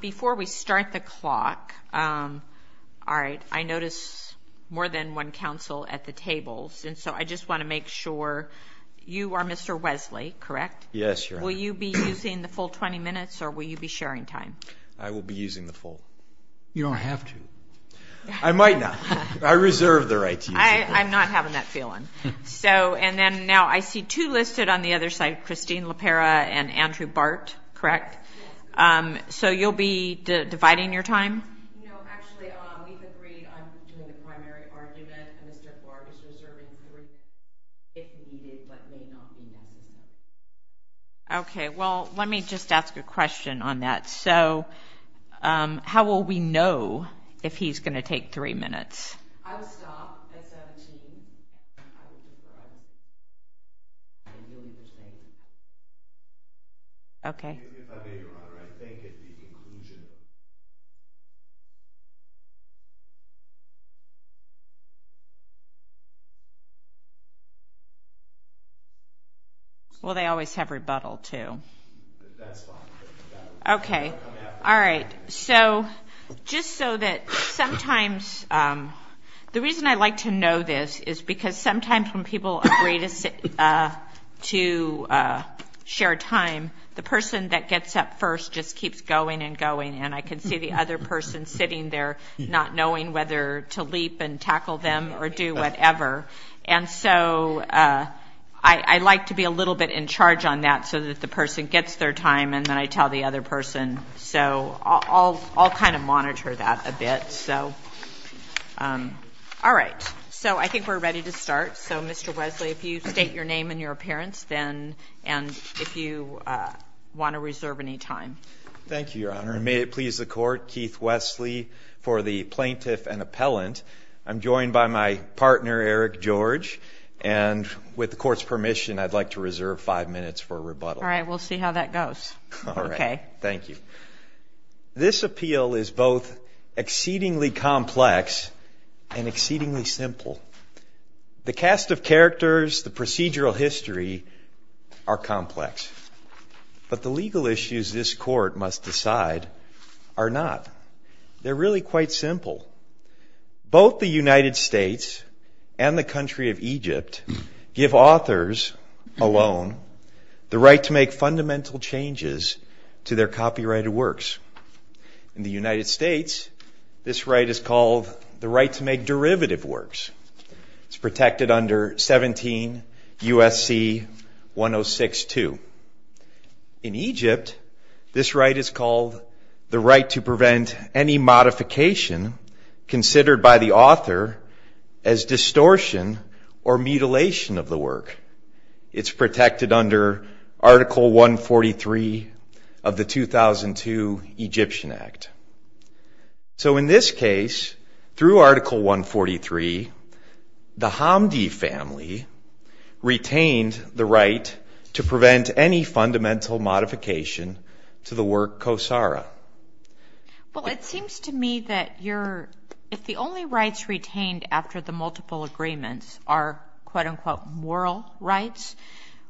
Before we start the clock, all right, I notice more than one council at the tables and so I just want to make sure you are Mr. Wesley, correct? Yes, Your Honor. Will you be using the full 20 minutes or will you be sharing time? I will be using the full. You don't have to. I might not. I reserve the right to use the full. I'm not having that feeling. So, and then now I see two listed on the other side, Christine LaPera and Andrew Bart, correct? Yes. So you'll be dividing your time? No, actually, we've agreed on doing the primary argument and Mr. Clark is reserving the resources if needed, but may not be wanted. Okay, well, let me just ask a question on that. So, how will we know if he's going to take three minutes? I will stop at 17. Okay. I beg your honor, I think it would be conclusion. Well, they always have rebuttal, too. That's fine. Okay. All right. So, just so that sometimes, the reason I like to know this is because sometimes when people agree to share time, the person that gets up first just keeps going and going and I can see the other person sitting there not knowing whether to leap and tackle them or do whatever. And so, I like to be a little bit in charge on that so that the person gets their time and then I tell the other person. So, I'll kind of monitor that a bit. All right. So, I think we're ready to start. So, Mr. Wesley, if you state your name and your appearance and if you want to reserve any time. Thank you, your honor. And may it please the court, Keith Wesley for the plaintiff and appellant. I'm joined by my partner, Eric George. And with the court's permission, I'd like to reserve five minutes for rebuttal. All right. We'll see how that goes. Okay. Thank you. This appeal is both exceedingly complex and exceedingly simple. The cast of characters, the procedural history are complex. But the legal issues this court must decide are not. They're really quite simple. Both the United States and the country of Egypt give authors alone the right to make fundamental changes to their copyrighted works. In the United States, this right is called the right to make derivative works. It's protected under 17 U.S.C. 1062. In Egypt, this right is called the right to prevent any modification considered by the author as distortion or mutilation of the work. It's protected under Article 143 of the 2002 Egyptian Act. So in this case, through Article 143, the Hamdi family retained the right to prevent any fundamental modification to the work Kosara. Well, it seems to me that if the only rights retained after the multiple agreements are quote-unquote moral rights,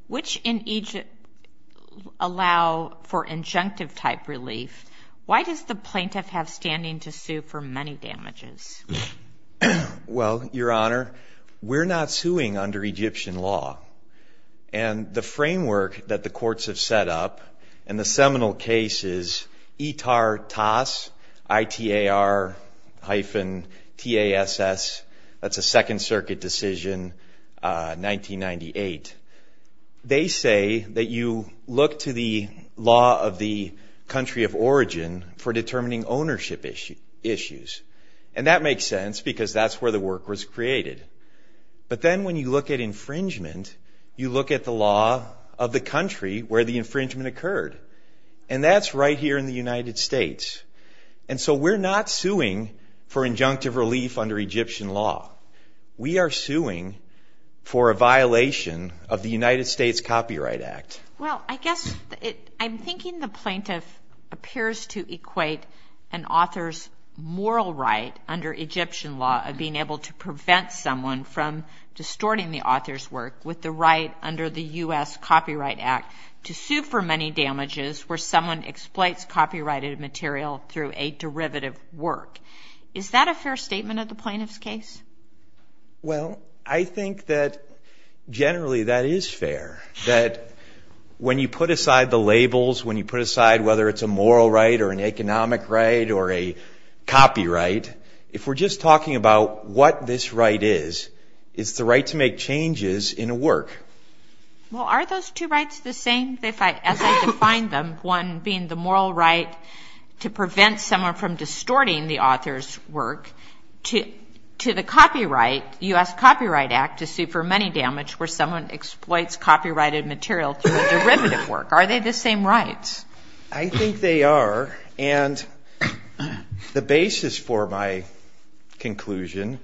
which in Egypt allow for injunctive type relief, why does the plaintiff have standing to sue for money damages? Well, Your Honor, we're not suing under Egyptian law. And the framework that the courts have set up in the seminal cases, Itartas, I-T-A-R hyphen T-A-S-S. That's a Second Circuit decision, 1998. They say that you look to the law of the country of origin for determining ownership issues. And that makes sense because that's where the work was created. But then when you look at infringement, you look at the law of the country where the infringement occurred. And that's right here in the United States. And so we're not suing for injunctive relief under Egyptian law. We are suing for a violation of the United States Copyright Act. Well, I guess I'm thinking the plaintiff appears to equate an author's moral right under Egyptian law of being able to prevent someone from distorting the author's work with the right under the U.S. Copyright Act to sue for money damages where someone exploits copyrighted material through a derivative work. Is that a fair statement of the plaintiff's case? Well, I think that generally that is fair. That when you put aside the labels, when you put aside whether it's a moral right or an economic right or a copyright, if we're just talking about what this right is, it's the right to make changes in a work. Well, are those two rights the same as I defined them? One being the moral right to prevent someone from distorting the author's work to the copyright, U.S. Copyright Act, to sue for money damage where someone exploits copyrighted material through a derivative work. Are they the same rights? I think they are. And the basis for my conclusion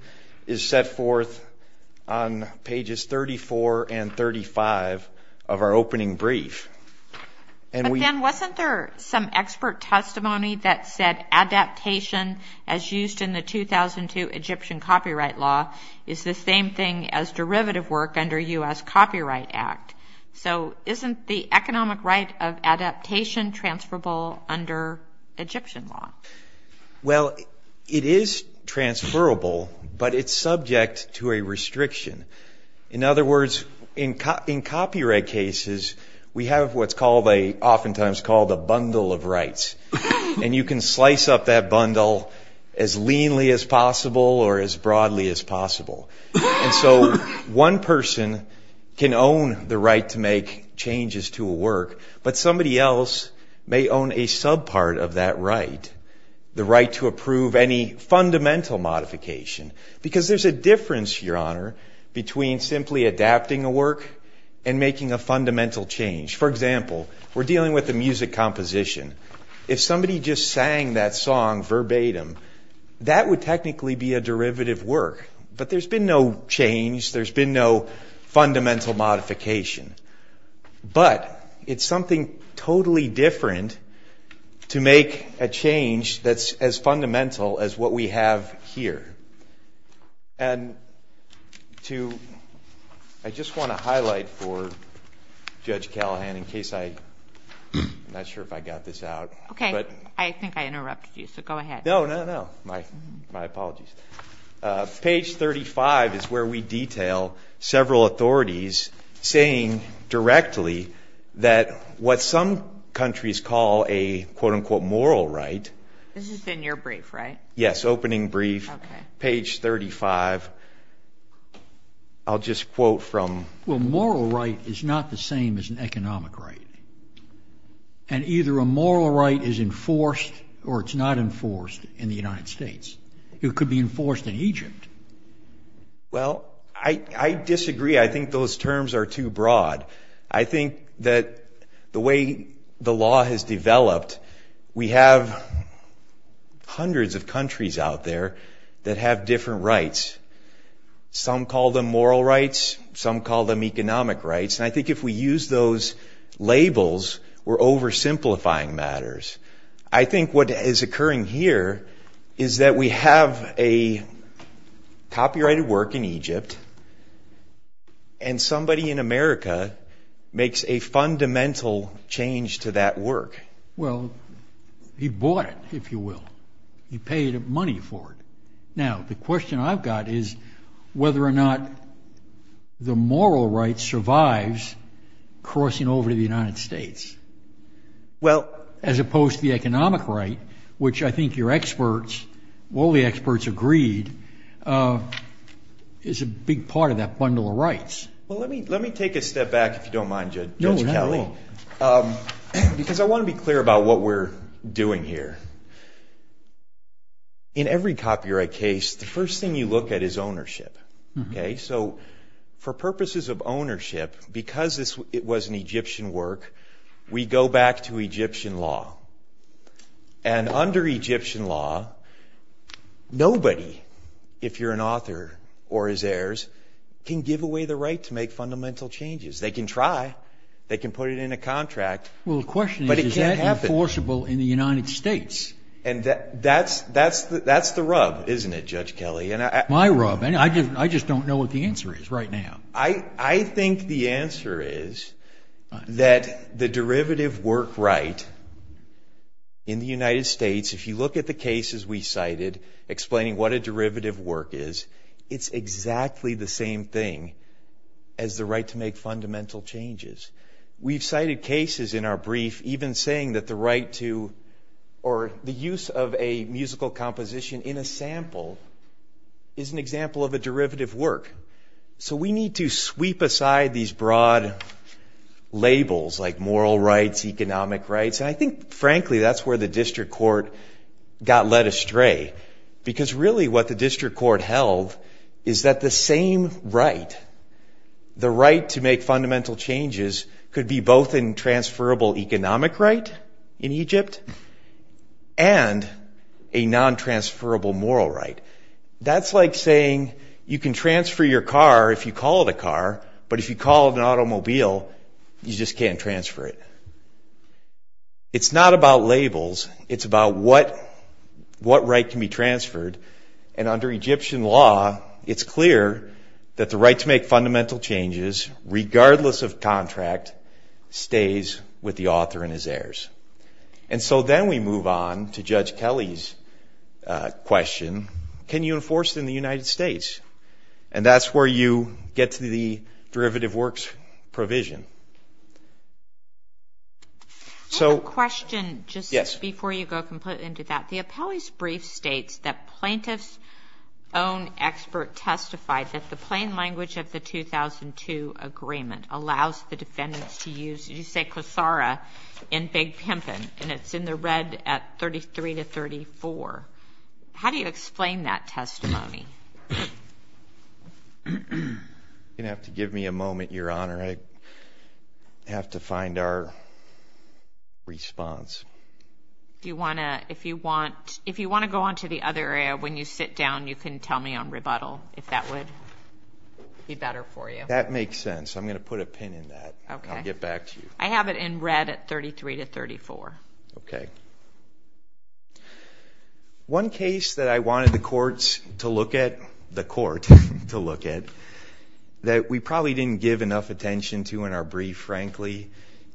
is set forth on pages 34 and 35 of our opening brief. But then wasn't there some expert testimony that said adaptation as used in the 2002 Egyptian Copyright Law is the same thing as derivative work under U.S. Copyright Act? So isn't the economic right of adaptation transferable under Egyptian law? Well, it is transferable, but it's subject to a restriction. In other words, in copyright cases, we have what's often times called a bundle of rights. And you can slice up that bundle as leanly as possible or as broadly as possible. And so one person can own the right to make changes to a work, but somebody else may own a subpart of that right, the right to approve any fundamental modification. Because there's a difference, Your Honor, between simply adapting a work and making a fundamental change. For example, we're dealing with a music composition. If somebody just sang that song verbatim, that would technically be a derivative work. But there's been no change. There's been no fundamental modification. But it's something totally different to make a change that's as fundamental as what we have here. And I just want to highlight for Judge Callahan, in case I'm not sure if I got this out. Okay. I think I interrupted you, so go ahead. No, no, no. My apologies. Page 35 is where we detail several authorities saying directly that what some countries call a, quote-unquote, moral right. This is in your brief, right? Yes, opening brief, page 35. I'll just quote from... Well, a moral right is not the same as an economic right. And either a moral right is enforced or it's not enforced in the United States. It could be enforced in Egypt. Well, I disagree. I think those terms are too broad. I think that the way the law has developed, we have hundreds of countries out there that have different rights. Some call them moral rights. Some call them economic rights. And I think if we use those labels, we're oversimplifying matters. I think what is occurring here is that we have a copyrighted work in Egypt and somebody in America makes a fundamental change to that work. Well, he bought it, if you will. He paid money for it. Now, the question I've got is whether or not the moral right survives crossing over to the United States as opposed to the economic right, which I think your experts, all the experts agreed, is a big part of that bundle of rights. Well, let me take a step back, if you don't mind, Judge Kelly. No, not at all. Because I want to be clear about what we're doing here. In every copyright case, the first thing you look at is ownership. Okay? So for purposes of ownership, because it was an Egyptian work, we go back to Egyptian law. And under Egyptian law, nobody, if you're an author or his heirs, can give away the right to make fundamental changes. They can try. They can put it in a contract. Well, the question is, is that enforceable in the United States? And that's the rub, isn't it, Judge Kelly? Why rub? I just don't know what the answer is right now. I think the answer is that the derivative work right in the United States, if you look at the cases we cited explaining what a derivative work is, it's exactly the same thing as the right to make fundamental changes. We've cited cases in our brief even saying that the right to, or the use of a musical composition in a sample is an example of a derivative work. So we need to sweep aside these broad labels like moral rights, economic rights. And I think, frankly, that's where the district court got led astray. Because really what the district court held is that the same right, the right to make fundamental changes, could be both a transferable economic right in Egypt and a non-transferable moral right. That's like saying you can transfer your car if you call it a car, but if you call it an automobile, you just can't transfer it. It's not about labels. It's about what right can be transferred. And under Egyptian law, it's clear that the right to make fundamental changes, regardless of contract, stays with the author and his heirs. And so then we move on to Judge Kelly's question, can you enforce it in the United States? And that's where you get to the derivative works provision. I have a question just before you go completely into that. The appellee's brief states that plaintiff's own expert testified that the plain language of the 2002 agreement allows the defendants to use Yusei Kosara in Big Pimpin, and it's in the red at 33 to 34. How do you explain that testimony? You're going to have to give me a moment, Your Honor. I have to find our response. If you want to go on to the other area, when you sit down, you can tell me on rebuttal if that would be better for you. That makes sense. I'm going to put a pin in that. I'll get back to you. I have it in red at 33 to 34. One case that I wanted the courts to look at, the court to look at, that we probably didn't give enough attention to in our brief, frankly,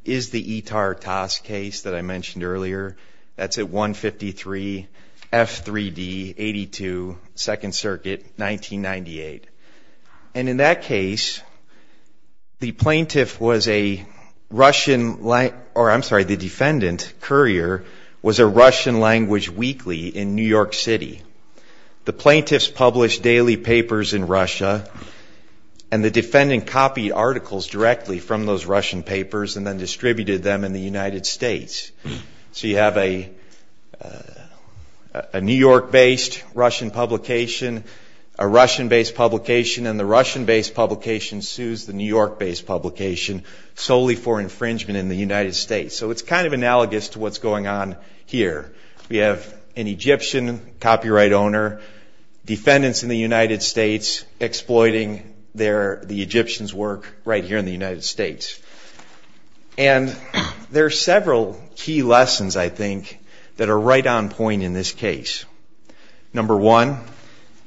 is the Itar-Tas case that I mentioned earlier. That's at 153, F3D, 82, Second Circuit, 1998. And in that case, the defendant, Currier, was a Russian language weekly in New York City. The plaintiffs published daily papers in Russia, and the defendant copied articles directly from those Russian papers and then distributed them in the United States. So you have a New York-based Russian publication, a Russian-based publication, and the Russian-based publication sues the New York-based publication solely for infringement in the United States. So it's kind of analogous to what's going on here. We have an Egyptian copyright owner, defendants in the United States exploiting the Egyptians' work right here in the United States. And there are several key lessons, I think, that are right on point in this case. Number one,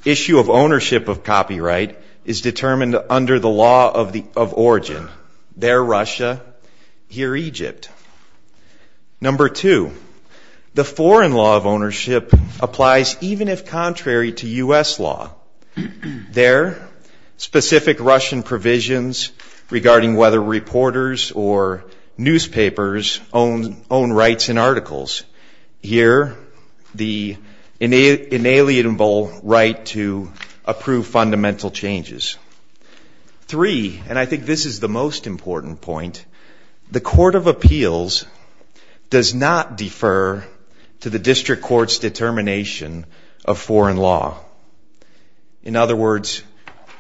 issue of ownership of copyright is determined under the law of origin. There, Russia, here, Egypt. Number two, the foreign law of ownership applies even if contrary to U.S. law. There, specific Russian provisions regarding whether reporters or newspapers own rights and articles. Here, the inalienable right to approve fundamental changes. Three, and I think this is the most important point, the court of appeals does not defer to the district court's determination of foreign law. In other words,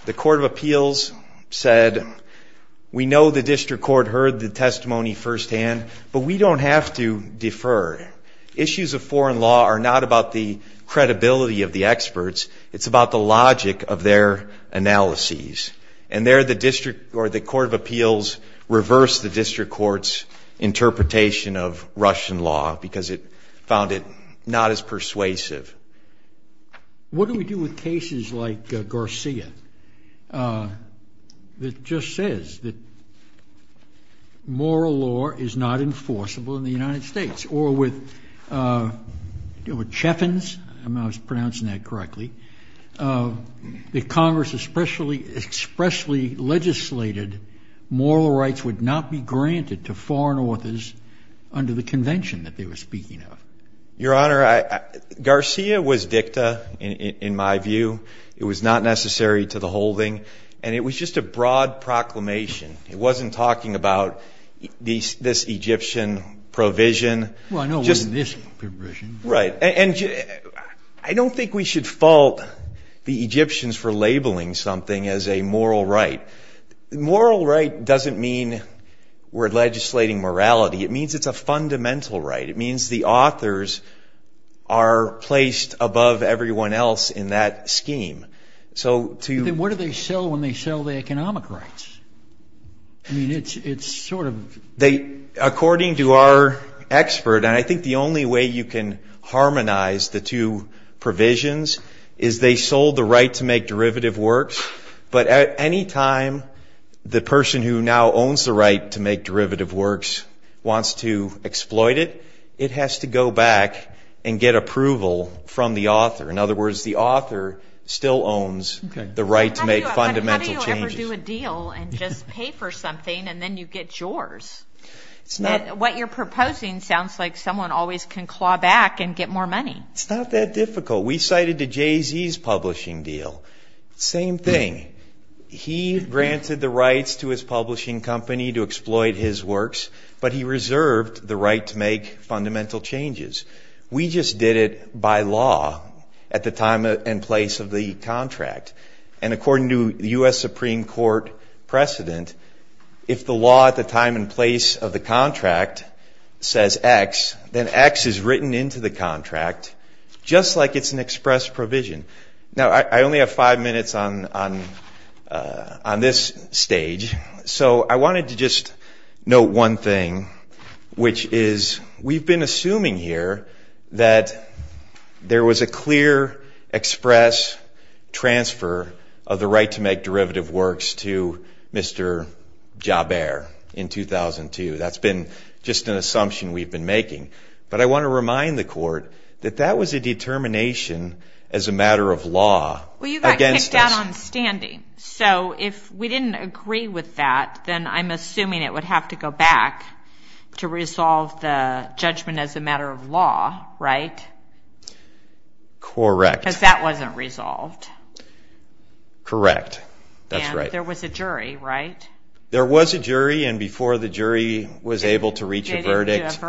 the court of appeals said we know the district court heard the testimony firsthand but we don't have to defer. Issues of foreign law are not about the credibility of the experts, it's about the logic of their analyses. And there, the district or the court of appeals reversed the district court's interpretation of Russian law because it found it not as persuasive. What do we do with cases like Garcia? That just says that moral law is not enforceable in the United States. Or with Chaffins, I don't know if I'm pronouncing that correctly, that Congress expressly legislated moral rights would not be granted to foreign authors under the convention that they were speaking of. Your Honor, Garcia was dicta in my view. It was not necessary to the holding and it was just a broad proclamation. It wasn't talking about this Egyptian provision. Well, I know it wasn't this provision. I don't think we should fault the Egyptians for labeling something as a moral right. Moral right doesn't mean we're legislating morality. It means it's a fundamental right. It means the authors are placed above everyone else in that scheme. Then what do they sell when they sell the economic rights? According to our expert, and I think the only way you can harmonize the two provisions is they sold the right to make derivative works but at any time the person who now owns the right to make derivative works wants to exploit it, it has to go back and get approval from the author. In other words, the author still owns the right to make fundamental changes. How do you ever do a deal and just pay for something and then you get yours? What you're proposing sounds like someone always can claw back and get more money. It's not that difficult. We cited the Jay-Z's publishing deal. Same thing. He granted the rights to his publishing company to exploit his works, but he reserved the right to make fundamental changes. We just did it by law at the time and place of the contract. According to the US Supreme Court precedent, if the law at the time and place of the contract says X, then X is written into the contract just like it's an express provision. I only have five minutes on this stage. I wanted to just note one thing, which is we've been assuming here that there was a clear express transfer of the right to make derivative works to Mr. Jaber in 2002. That's been just an assumption we've been making. But I want to remind the Court that that was a determination as a matter of law. Well, you got kicked out on standing. So if we didn't agree with that, then I'm assuming it would have to go back to resolve the judgment as a matter of law, right? Correct. Because that wasn't resolved. Correct. That's right. And there was a jury, right? There was a jury. And before the jury was able to reach a verdict,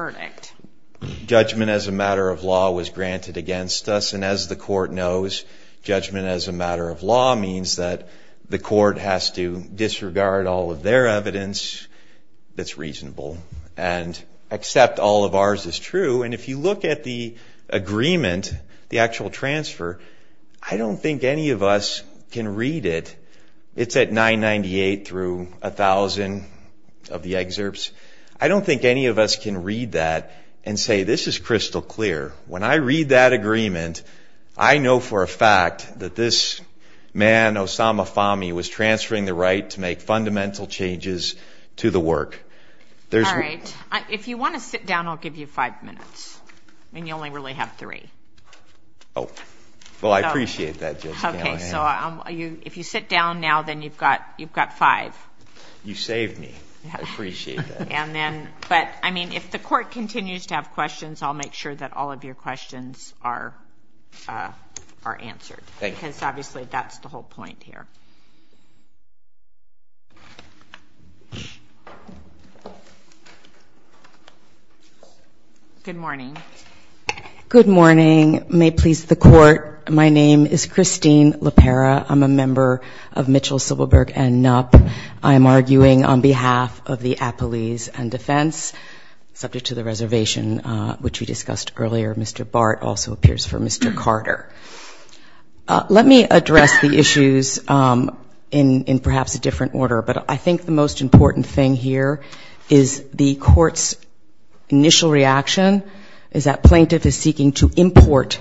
judgment as a matter of law was granted against us. And as the Court knows, judgment as a matter of law means that the Court has to disregard all of their evidence that's reasonable and accept all of ours is true. And if you look at the agreement, the actual transfer, I don't think any of us can read it. It's at 998 through 1,000 of the excerpts. I don't think any of us can read that and say, this is crystal clear. When I read that agreement, I know for a fact that this man, Osama Fahmy, was transferring the right to make fundamental changes to the work. If you want to sit down, I'll give you five minutes. And you only really have three. Oh. Well, I appreciate that, Judge Gallagher. Okay, so if you sit down now, then you've got five. You saved me. I appreciate that. But, I mean, if the Court continues to have questions, I'll make sure that all of your questions are answered. Thank you. Because, obviously, that's the whole point here. Good morning. Good morning. May it please the Court. My name is Christine LaPera. I'm a member of Mitchell, Silberberg, and Knapp. I'm arguing on behalf of the Appellees and Defense, subject to the reservation which we discussed earlier. Mr. Bart also appears for Mr. Carter. Let me address the issues in perhaps a different order. But I think the most important thing here is the Court's initial reaction is that plaintiff is seeking to import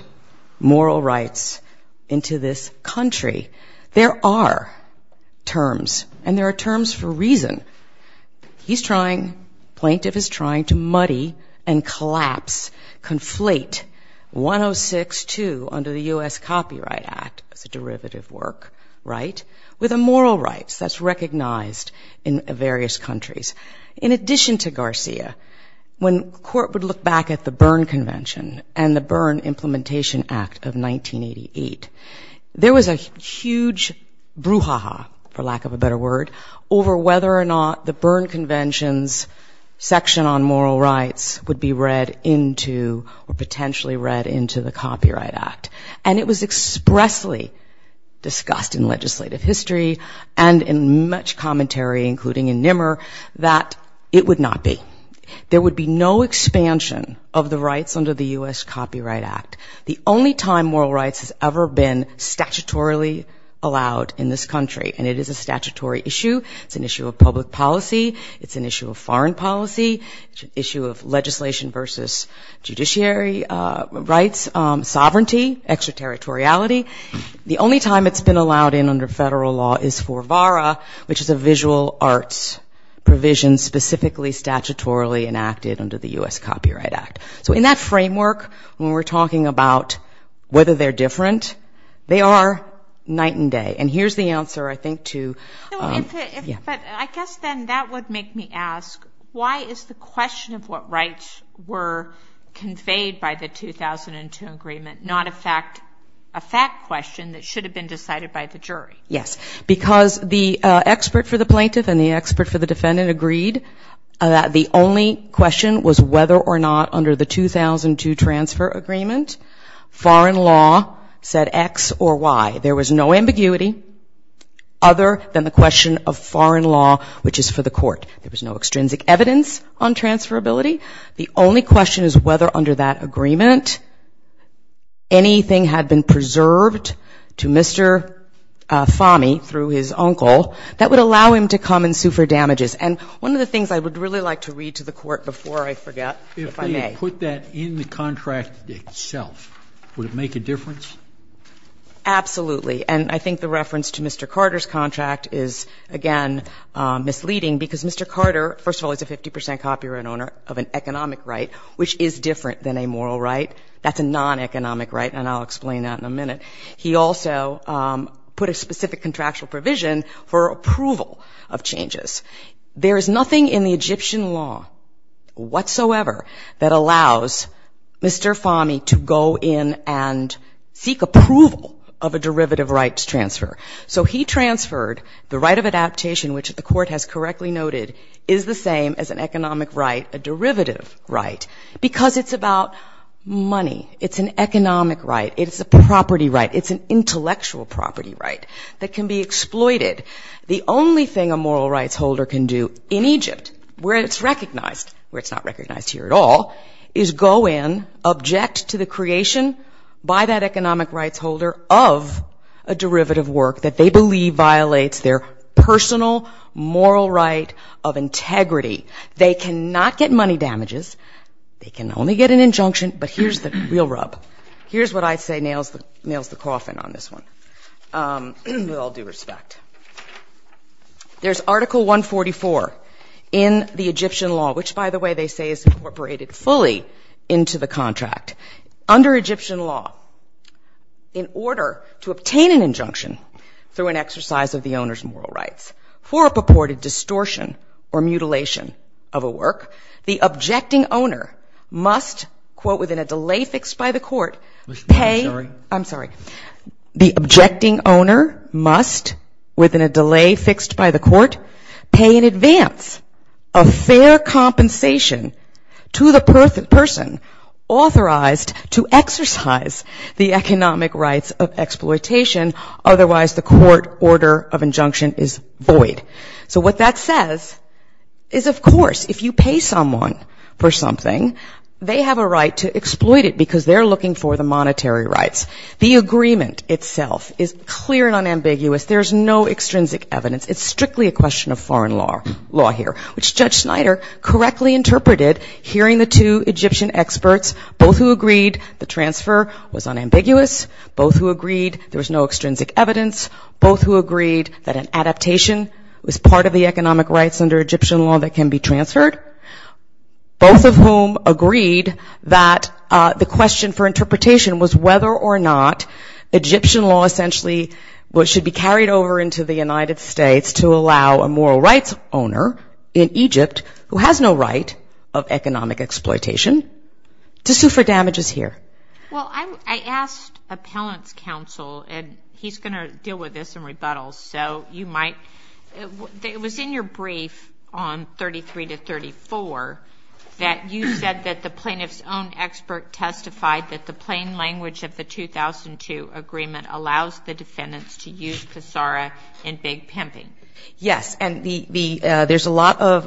moral rights into this country. There are terms. And there are terms for a reason. Plaintiff is trying to muddy and collapse, conflate 106.2 under the U.S. Copyright Act as a derivative work right with immoral rights. That's recognized in various countries. In addition to Garcia, when Court would look back at the Berne Convention and the Berne Implementation Act of 1988, there was a huge brouhaha, for lack of a better word, over whether or not the Berne Convention's section on moral rights would be read into or potentially read into the Copyright Act. And it was expressly discussed in legislative history and in much commentary, including in Nimmer, that it would not be. There would be no expansion of the rights under the U.S. Copyright Act. The only time moral rights has ever been statutorily allowed in this country. And it is a statutory issue. It's an issue of public policy. It's an issue of foreign policy. It's an issue of legislation versus judiciary rights. Sovereignty, extraterritoriality. The only time it's been allowed in under federal law is for VARA, which is a visual arts provision specifically statutorily enacted under the U.S. Copyright Act. So in that framework, when we're talking about whether they're different, they are night and day. And here's the answer, I think, to... the question of what rights were conveyed by the 2002 agreement, not a fact question that should have been decided by the jury. Yes, because the expert for the plaintiff and the expert for the defendant agreed that the only question was whether or not under the 2002 transfer agreement, foreign law said X or Y. There was no ambiguity other than the question of foreign law, which is for the court. There was no extrinsic evidence on transferability. The only question is whether under that agreement anything had been preserved to Mr. Fahmy through his uncle that would allow him to come and sue for damages. And one of the things I would really like to read to the court before I forget, if I may... If they had put that in the contract itself, would it make a difference? Absolutely. And I think the reference to Mr. Carter's contract is, again, misleading, because Mr. Carter, first of all, is a 50% copyright owner of an economic right, which is different than a moral right. That's a non-economic right, and I'll explain that in a minute. He also put a specific contractual provision for approval of changes. There is nothing in the Egyptian law whatsoever that allows Mr. Fahmy to go in and seek approval of a derivative rights transfer. So he transferred the right of adaptation, which the court has correctly noted is the same as an economic right, a derivative right, because it's about money. It's an economic right. It's a property right. It's an intellectual property right that can be exploited. The only thing a moral rights holder can do in Egypt, where it's recognized, where it's not recognized here at all, is go in, object to the creation by that economic rights holder of a derivative work that they believe violates their personal moral right of integrity. They cannot get money damages. They can only get an injunction, but here's the real rub. Here's what I'd say nails the coffin on this one, with all due respect. There's Article 144 in the Egyptian law, which, by the way, they say is incorporated fully into the contract. Under Egyptian law, in order to obtain an injunction through an exercise of the owner's moral rights for a purported distortion or mutilation of a work, the objecting owner must, quote, within a delay fixed by the court, pay... within a delay fixed by the court, pay in advance a fair compensation to the person authorized to exercise the economic rights of exploitation, otherwise the court order of injunction is void. So what that says is, of course, if you pay someone for something, they have a right to exploit it because they're looking for the monetary rights. The agreement itself is clear and unambiguous. There's no extrinsic evidence. It's strictly a question of foreign law here, which Judge Snyder correctly interpreted hearing the two Egyptian experts, both who agreed the transfer was unambiguous, both who agreed there was no extrinsic evidence, both who agreed that an adaptation was part of the economic rights under Egyptian law that can be transferred, both of whom agreed that the question for interpretation was whether or not Egyptian law essentially should be carried over into the United States to allow a moral rights owner in Egypt who has no right of economic exploitation to sue for damages here. Well, I asked appellant's counsel, and he's going to deal with this in rebuttal, so you might... It was in your brief on 33 to 34 that you said that the plaintiff's own expert testified that the plain language of the 2002 agreement allows the defendants to use Kisara in big pimping. Yes. And there's a lot of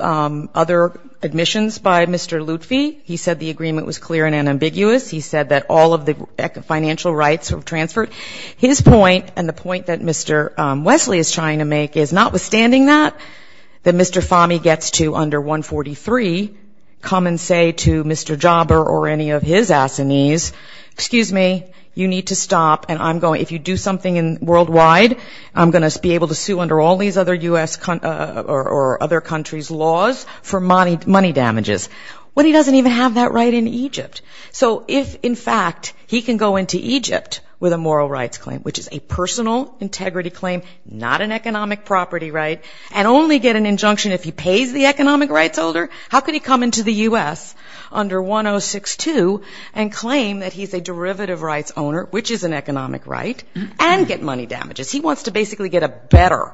other admissions by Mr. Lutfi. He said the agreement was clear and unambiguous. He said that all of the financial rights were transferred. His point, and the point that Mr. Wesley is trying to make, is notwithstanding that, that Mr. Fahmy gets to under 143, come and say to Mr. Jobber or any of his allies excuse me, you need to stop, and I'm going... If you do something worldwide, I'm going to be able to sue under all these other U.S. or other countries' laws for money damages. Well, he doesn't even have that right in Egypt. So if, in fact, he can go into Egypt with a moral rights claim, which is a personal integrity claim, not an economic property right, and only get an injunction if he pays the economic rights owner, how could he come into the U.S. under 1062 and claim that he's a derivative rights owner, which is an economic right, and get money damages? He wants to basically get a better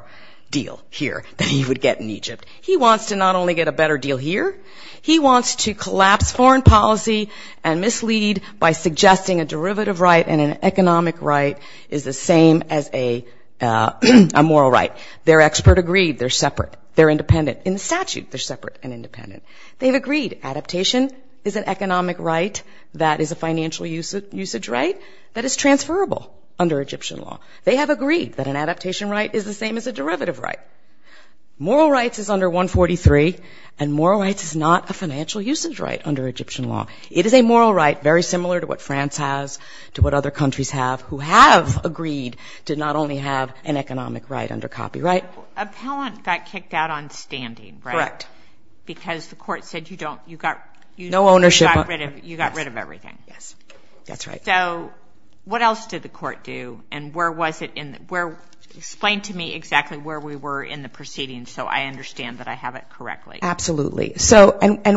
deal here than he would get in Egypt. He wants to not only get a better deal here, he wants to collapse foreign policy and mislead by suggesting a derivative right and an economic right is the same as a moral right. They're expert agreed. They're separate. They're independent. In the statute, they're separate and independent. They've agreed adaptation is an economic right that is a financial usage right that is transferable under Egyptian law. They have agreed that an adaptation right is the same as a derivative right. Moral rights is under 143, and moral rights is not a financial usage right under Egyptian law. It is a moral right very similar to what France has, to what other countries have, who have agreed to not only have an economic right under copyright. Appellant got kicked out on standing, right? Right. Because the court said you got rid of everything. That's right. What else did the court do? Explain to me exactly where we were in the proceedings so I understand that I have it correctly. Absolutely.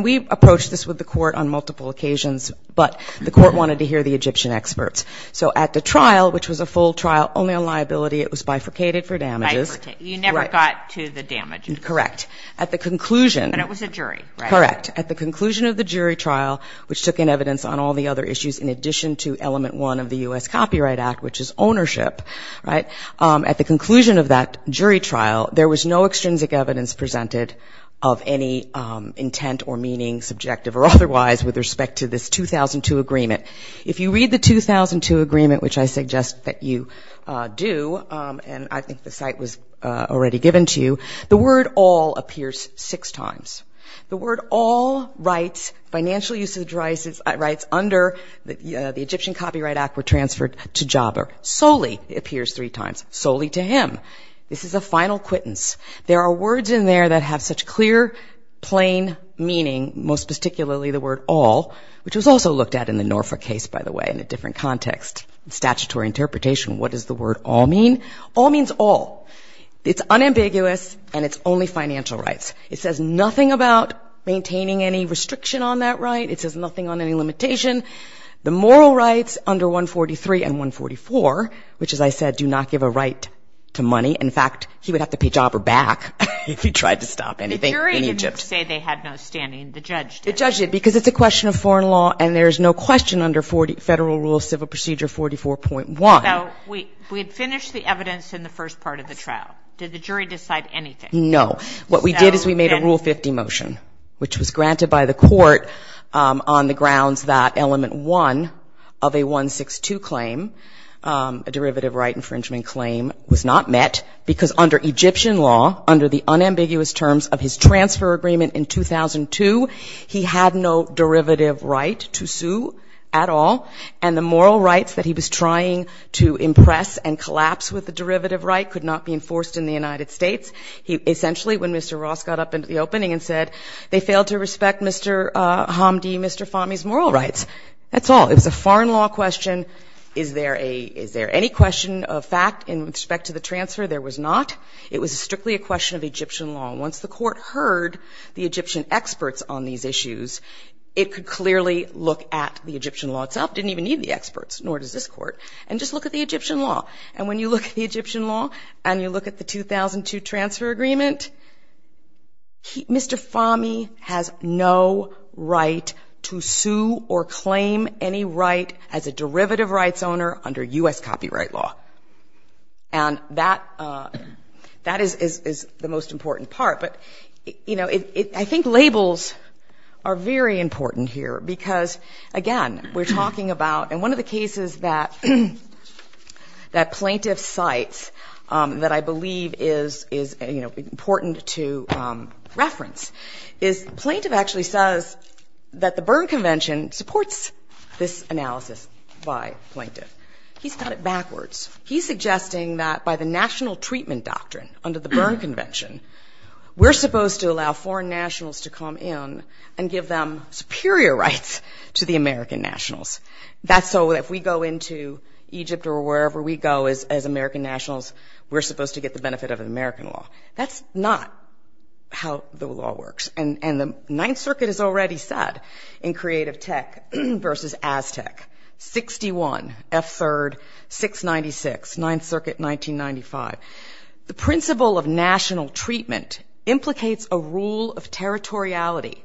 We've approached this with the court on multiple occasions, but the court wanted to hear the Egyptian experts. So at the trial, which was a full trial, only on liability, it was bifurcated for damages. You never got to the damages. Correct. But it was a jury, right? Correct. At the conclusion of the jury trial, which took in evidence on all the other issues, in addition to element one of the U.S. Copyright Act, which is ownership, right, at the conclusion of that jury trial, there was no extrinsic evidence presented of any intent or meaning, subjective or otherwise, with respect to this 2002 agreement. If you read the 2002 agreement, which I suggest that you do, and I think the site was already given to you, the word all appears six times. The word all rights, financial usage rights, under the Egyptian Copyright Act were transferred to Jaber. Solely appears three times, solely to him. This is a final quittance. There are words in there that have such clear, plain meaning, most particularly the word all, which was also looked at in the Norfolk case, by the way, in a different context, statutory interpretation. What does the word all mean? All means all. It's unambiguous, and it's only financial rights. It says nothing about maintaining any restriction on that right. It says nothing on any limitation. The moral rights under 143 and 144, which, as I said, do not give a right to money. In fact, he would have to pay Jaber back if he tried to stop anything in Egypt. The jury didn't say they had no standing. The judge did. The judge did, because it's a question of foreign law, and there's no question under Federal Rule of Civil Procedure 44.1. So we had finished the evidence in the first part of the trial. Did the jury decide anything? No. What we did is we made a Rule 50 motion, which was granted by the court on the grounds that element one of a 162 claim, a derivative right infringement claim, was not met, because under Egyptian law, under the unambiguous terms of his transfer agreement in 2002, he had no derivative right to sue at all, and the moral rights that he was trying to impress and collapse with the derivative right could not be enforced in the United States. He essentially, when Mr. Ross got up into the opening and said, they failed to respect Mr. Hamdi, Mr. Fahmy's moral rights. That's all. It was a foreign law question. Is there any question of fact in respect to the transfer? There was not. It was strictly a question of Egyptian law. Once the court heard the Egyptian experts on these issues, it could clearly look at the Egyptian law itself. It didn't even need the experts, nor does this court. And just look at the Egyptian law. And when you look at the Egyptian law and you look at the 2002 transfer agreement, Mr. Fahmy has no right to sue or claim any right as a derivative rights owner under U.S. copyright law. And that is the most important part. But, you know, I think labels are very important here, because, again, we're talking about... And one of the cases that plaintiff cites that I believe is, you know, important to reference is plaintiff actually says that the Berne Convention supports this analysis by plaintiff. He's got it backwards. He's suggesting that by the national treatment doctrine under the Berne Convention, we're supposed to allow foreign nationals to come in and give them superior rights to the American nationals. That's so that if we go into Egypt or wherever we go as American nationals, we're supposed to get the benefit of American law. That's not how the law works. And the Ninth Circuit has already said in Creative Tech versus Aztec, 61, F3, 696, Ninth Circuit, 1995, the principle of national treatment implicates a rule of territoriality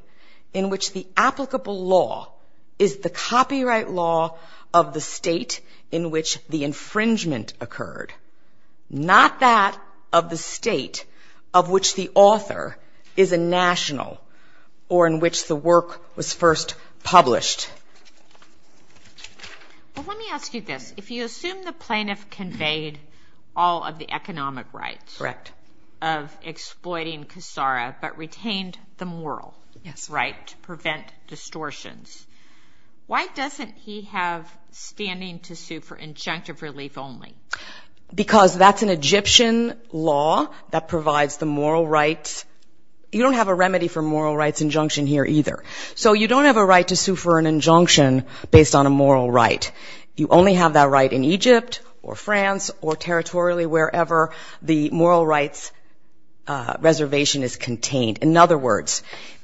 in which the applicable law is the copyright law of the state in which the infringement occurred, not that of the state of which the author is a national or in which the work was first published. Well, let me ask you this. If you assume the plaintiff conveyed all of the economic rights of exploiting Kassara but retained the moral right to prevent distortions, why doesn't he have standing to sue for injunctive relief only? Because that's an Egyptian law that provides the moral rights. You don't have a remedy for moral rights injunction here either. So you don't have a right to sue for an injunction based on a moral right. You only have that right in Egypt or France or territorially wherever the moral rights reservation is contained. In other words,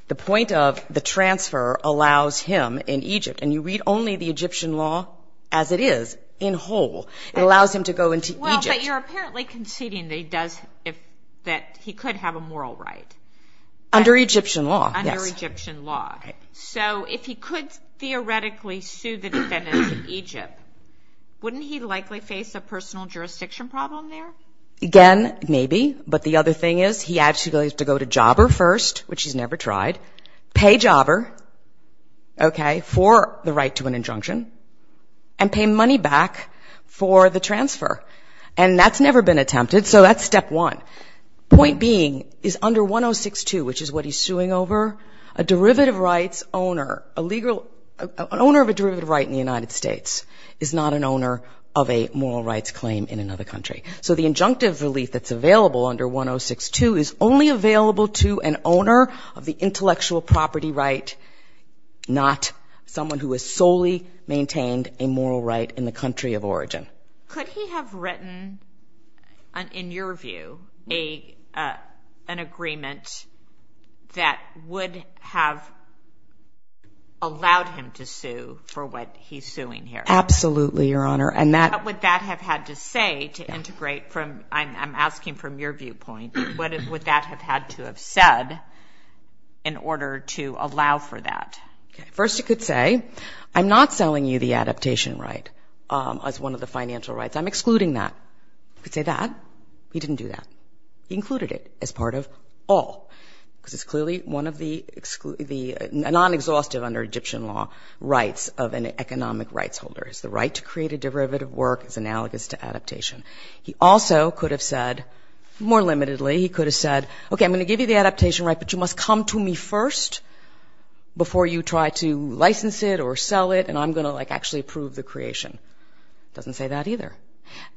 the point of the transfer allows him in Egypt, and you read only the Egyptian law as it is, in whole, it allows him to go into Egypt. Well, but you're apparently conceding that he could have a moral right. Under Egyptian law, yes. Under Egyptian law. So if he could theoretically sue the defendants in Egypt, wouldn't he likely face a personal jurisdiction problem there? Again, maybe. But the other thing is he actually has to go to Jobber first, which he's never tried, pay Jobber for the right to an injunction and pay money back for the transfer. And that's never been attempted. So that's step one. Point being, is under 1062, which is what he's suing over, a derivative rights owner, an owner of a derivative right in the United States is not an owner of a moral rights claim in another country. So the injunctive relief that's available under 1062 is only available to an owner of the intellectual property right, not someone who has solely maintained a moral right in the country of origin. Could he have written, in your view, an agreement that would have allowed him to sue for what he's suing here? Absolutely, Your Honor. What would that have had to say to integrate from, I'm asking from your viewpoint, what would that have had to have said in order to allow for that? First, he could say, I'm not selling you the adaptation right as one of the financial rights. I'm excluding that. He could say that. He didn't do that. He included it as part of all, because it's clearly one of the non-exhaustive under Egyptian law rights of an economic rights holder. It's the right to create a derivative work that's analogous to adaptation. He also could have said, more limitedly, he could have said, okay, I'm going to give you the adaptation right, but you must come to me first before you try to license it or sell it, and I'm going to actually approve the creation. Doesn't say that either.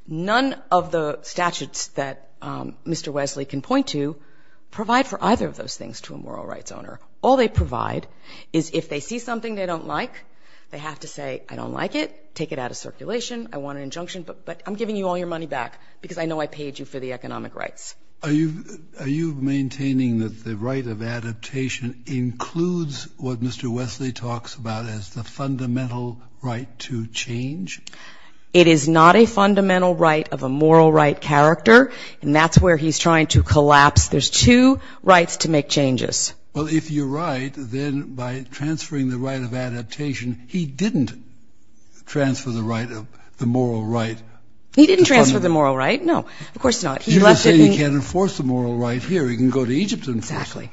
None of the statutes that Mr. Wesley can point to provide for either of those things to a moral rights owner. All they provide is if they see something they don't like, they have to say, I don't like it, take it out of circulation, I want an injunction, but I'm giving you all your money back because I know I paid you for the economic rights. Are you maintaining that the right of adaptation includes what Mr. Wesley talks about as the fundamental right to change? It is not a fundamental right of a moral right character, and that's where he's trying to collapse. There's two rights to make changes. Well, if you're right, then by transferring the right of adaptation, he didn't transfer the moral right. He didn't transfer the moral right, no, of course not. You're just saying he can't enforce the moral right here, he can go to Egypt to enforce it.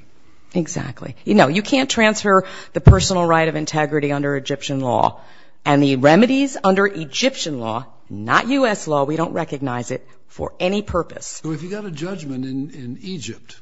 Exactly. No, you can't transfer the personal right of integrity under Egyptian law, and the remedies under Egyptian law, not U.S. law, we don't recognize it for any purpose. So if he got a judgment in Egypt,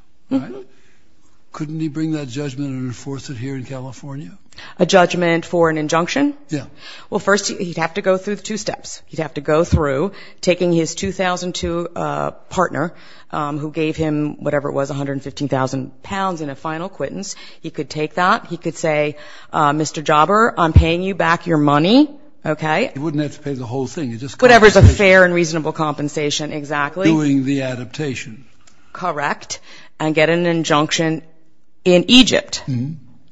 couldn't he bring that judgment and enforce it here in California? A judgment for an injunction? Yeah. Well, first he'd have to go through the two steps. He'd have to go through taking his 2002 partner, who gave him whatever it was, 115,000 pounds in a final acquittance, he could take that, he could say, Mr. Jobber, I'm paying you back your money, okay? He wouldn't have to pay the whole thing. Whatever's a fair and reasonable compensation, exactly. Doing the adaptation. Correct, and get an injunction in Egypt,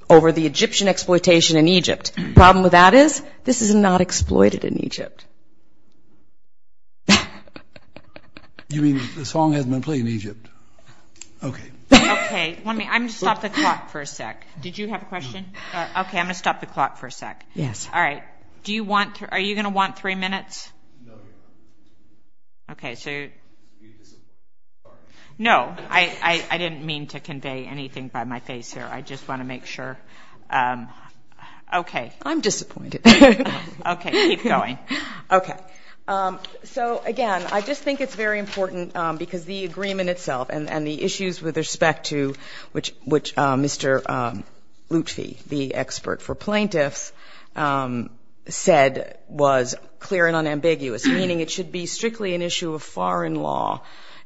over the Egyptian exploitation in Egypt. Problem with that is, this is not exploited in Egypt. You mean the song hasn't been played in Egypt? Okay. Okay, I'm going to stop the clock for a sec. Did you have a question? Okay, I'm going to stop the clock for a sec. Yes. All right. Are you going to want three minutes? No. No, I didn't mean to convey anything by my face here. I just want to make sure. Okay. I'm disappointed. Okay, keep going. Okay, so, again, I just think it's very important, because the agreement itself and the issues with respect to, which Mr. Lutfi, the expert for plaintiffs, said was clear and unambiguous, meaning it should be strictly an issue of foreign law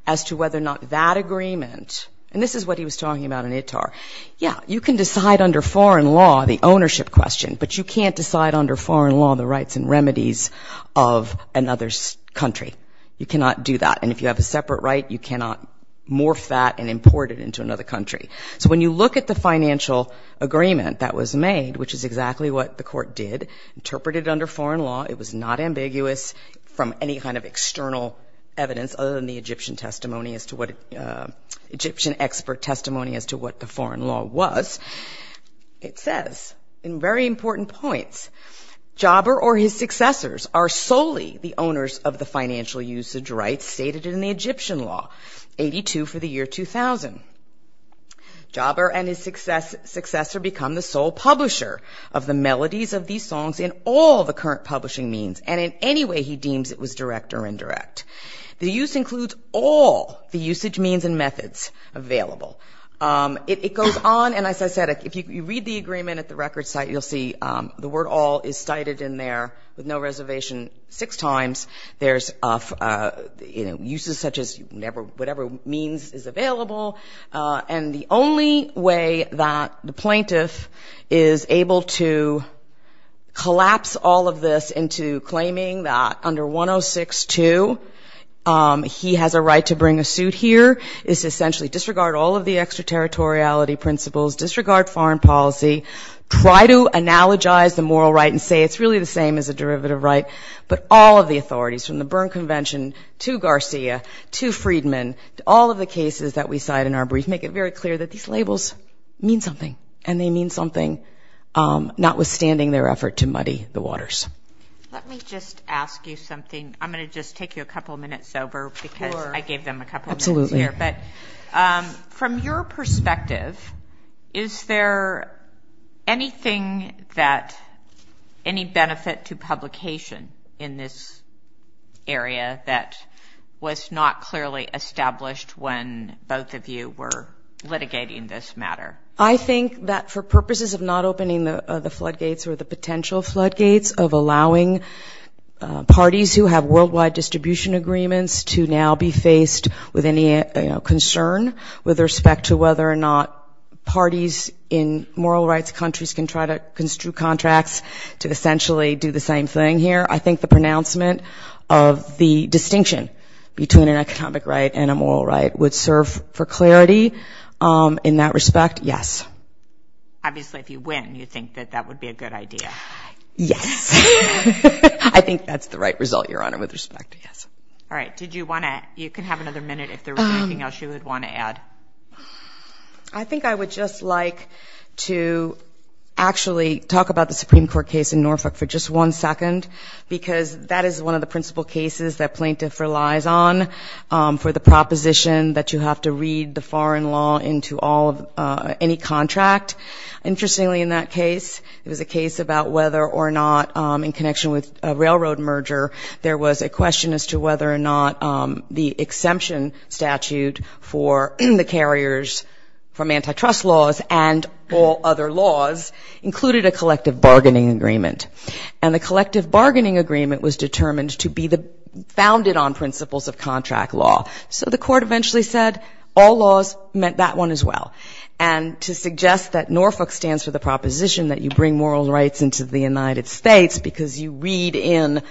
as to whether or not that agreement, and this is what he was talking about in ITAR. Yeah, you can decide under foreign law the ownership question, but you can't decide under foreign law the rights and remedies of another country. You cannot do that, and if you have a separate right, you cannot morph that and import it into another country. So when you look at the financial agreement that was made, which is exactly what the court did, interpreted under foreign law, it was not ambiguous from any kind of external evidence other than the Egyptian expert testimony as to what the foreign law was. It says, in very important points, Jobber or his successors are solely the owners of the financial usage rights stated in the Egyptian law, 82 for the year 2000. Jobber and his successor become the sole publisher of the melodies of these songs in all the current publishing means, and in any way he deems it was direct or indirect. The use includes all the usage means and methods available. It goes on, and as I said, if you read the agreement at the record site, you'll see the word all is cited in there with no reservation six times. There's, you know, uses such as whatever means is available, and the only way that the plaintiff is able to collapse all of this into claiming that under 106.2 he has a right to bring a suit here is essentially disregard all of the extraterritoriality principles, disregard foreign policy, try to analogize the moral right and say it's really the same as a derivative right, but all of the authorities from the Berne Convention to Garcia to Friedman to all of the cases that we cite in our brief make it very clear that these labels mean something, and they mean something, notwithstanding their effort to muddy the waters. Let me just ask you something. I'm going to just take you a couple minutes over because I gave them a couple minutes here. But from your perspective, is there anything that, any benefit to publication in this area that was not clearly established when both of you were litigating this matter? I think that for purposes of not opening the floodgates or the potential floodgates of allowing parties who have worldwide distribution agreements to now be faced with any concern with respect to whether or not parties in moral rights countries can try to construe contracts to essentially do the same thing here. I think the pronouncement of the distinction between an economic right and a moral right would serve for clarity in that respect, yes. Obviously, if you win, you think that that would be a good idea. Yes. I think that's the right result, Your Honor, with respect, yes. All right. Did you want to, you can have another minute if there was anything else you would want to add. I think I would just like to actually talk about the Supreme Court case in Norfolk for just one second because that is one of the principal cases that plaintiff relies on for the proposition that you have to read the foreign law into any contract. Interestingly, in that case, it was a case about whether or not in connection with a railroad merger, there was a question as to whether or not the exemption statute for the carriers from antitrust laws and all other laws included a collective bargaining agreement. And the collective bargaining agreement was determined to be the, founded on principles of contract law. So the court eventually said all laws meant that one as well. And to suggest that Norfolk stands for the proposition that you bring immoral rights into the United States because you read in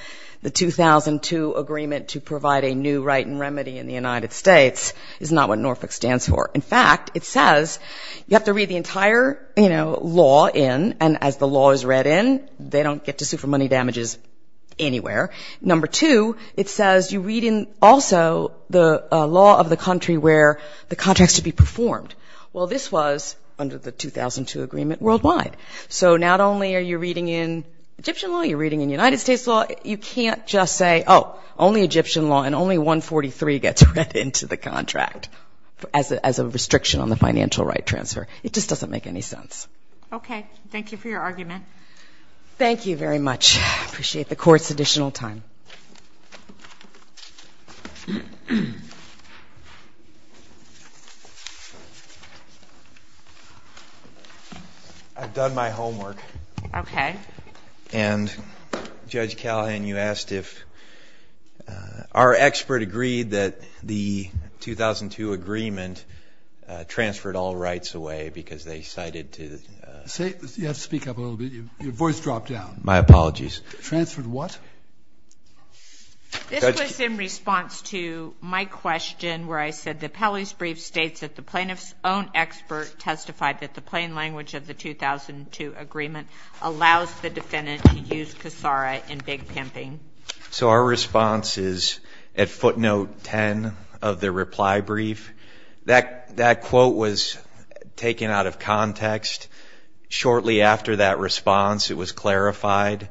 the 2002 agreement to provide a new right and remedy in the United States is not what Norfolk stands for. In fact, it says you have to read the entire, you know, law in and as the law is read in, they don't get to sue for money damages anywhere. Number two, it says you read in also the law of the country where the contracts should be performed. Well, this was under the 2002 agreement worldwide. So not only are you reading in Egyptian law, you're reading in United States law, you can't just say, oh, only Egyptian law and only 143 gets read into the contract as a restriction on the financial right transfer. It just doesn't make any sense. Okay. Thank you for your argument. Thank you very much. I appreciate the court's additional time. I've done my homework. Okay. And Judge Callahan, you asked if our expert agreed that the 2002 agreement transferred all rights away because they cited to say you have to speak up a little bit. Your voice dropped down. My apologies. Transferred what? This was in response to my question where I said the Pelley's brief states that the plaintiff's own expert testified that the plain language of the 2002 agreement allows the defendant to use Kassara in big pimping. So our response is at footnote 10 of the reply brief. That quote was taken out of context. Shortly after that response, it was clarified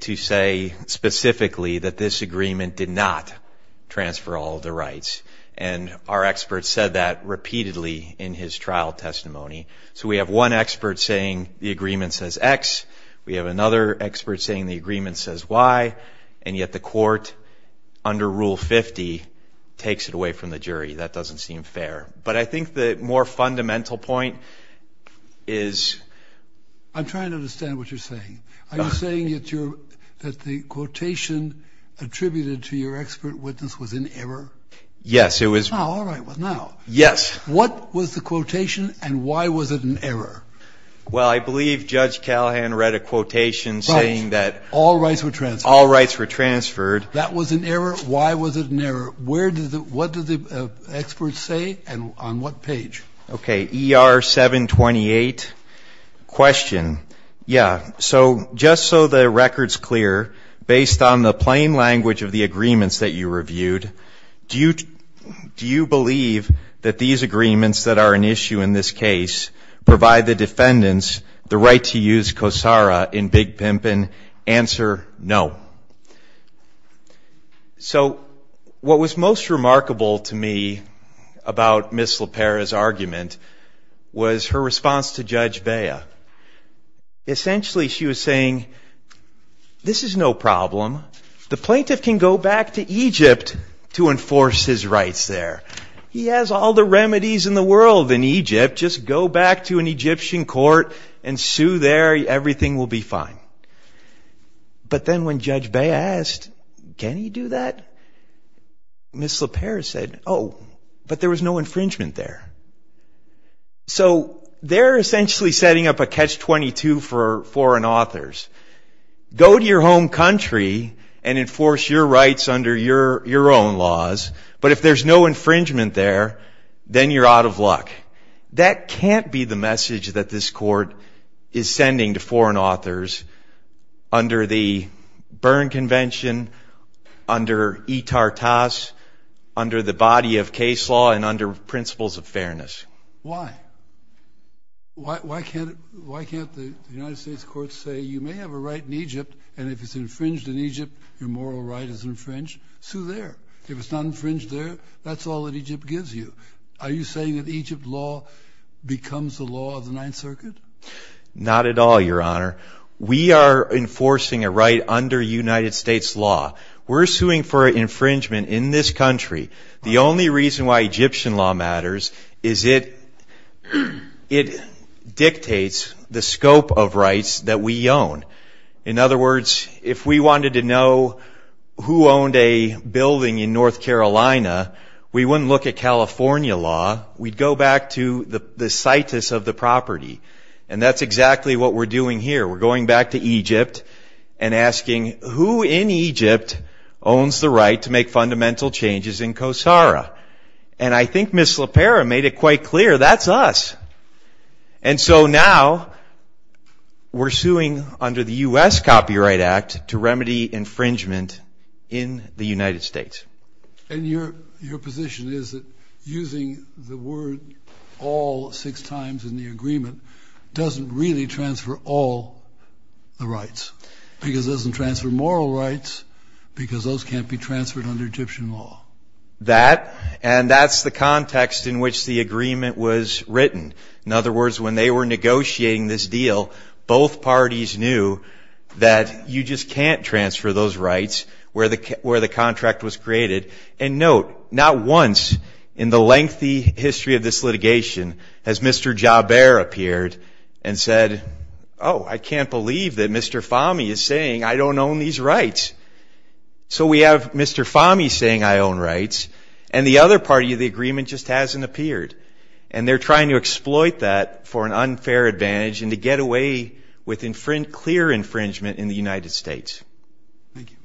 to say specifically that this agreement did not transfer all of the rights. And our expert said that repeatedly in his trial testimony. So we have one expert saying the agreement says X. We have another expert saying the agreement says Y. And yet the court under Rule 50 takes it away from the jury. That doesn't seem fair. But I think the more fundamental point is... I'm trying to understand what you're saying. Are you saying that the quotation attributed to your expert witness was in error? Yes, it was. What was the quotation and why was it an error? Well, I believe Judge Callahan read a quotation saying that... All rights were transferred. All rights were transferred. That was an error. Why was it an error? What did the expert say and on what page? Okay. ER 728 question. Yeah. So just so the record's clear, based on the plain language of the agreements that you reviewed, do you believe that these agreements that are an issue in this case provide the defendants the right to use COSARA in Big Pimpin? Answer, no. So what was most remarkable to me about Ms. LaPera's argument was her response to Judge Bea. Essentially she was saying, this is no problem. The plaintiff can go back to Egypt to enforce his rights there. He has all the remedies in the world in Egypt. Just go back to an Egyptian court and sue there. Everything will be fine. But then when Judge Bea asked, can he do that? Ms. LaPera said, oh, but there was no infringement there. So they're essentially setting up a catch-22 for foreign authors. Go to your home country and enforce your rights under your own laws, but if there's no infringement there, then you're out of luck. That can't be the message that this court is sending to foreign authors under the Berne Convention, under eTarTas, under the body of case law and under principles of fairness. Why? Why can't the United States courts say, you may have a right in Egypt, and if it's infringed in Egypt, your moral right is infringed. Sue there. If it's not infringed there, that's all that Egypt gives you. Are you saying that Egypt law becomes the law of the Ninth Circuit? Not at all, Your Honor. We are enforcing a right under United States law. We're suing for infringement in this country. The only reason why Egyptian law matters is it dictates the scope of rights that we own. In other words, if we wanted to know who owned a building in North Carolina, we wouldn't look at California law. We'd go back to the situs of the property. That's exactly what we're doing here. We're going back to Egypt and asking, who in Egypt owns the right to make fundamental changes in Kosara? I think Ms. Slapera made it quite clear, that's us. Now we're suing under the U.S. Copyright Act to remedy infringement in the United States. And your position is that using the word all six times in the agreement doesn't really transfer all the rights. Because it doesn't transfer moral rights, because those can't be transferred under Egyptian law. That, and that's the context in which the agreement was written. In other words, when they were negotiating this deal, both parties knew that you just can't transfer those rights where the contract was created. And note, not once in the lengthy history of this litigation has Mr. Jaber appeared and said, oh, I can't believe that Mr. Fahmy is saying I don't own these rights. So we have Mr. Fahmy saying I own rights, and the other party of the agreement just hasn't appeared. And they're trying to exploit that for an unfair advantage and to get away with clear infringement in the United States. Thank you.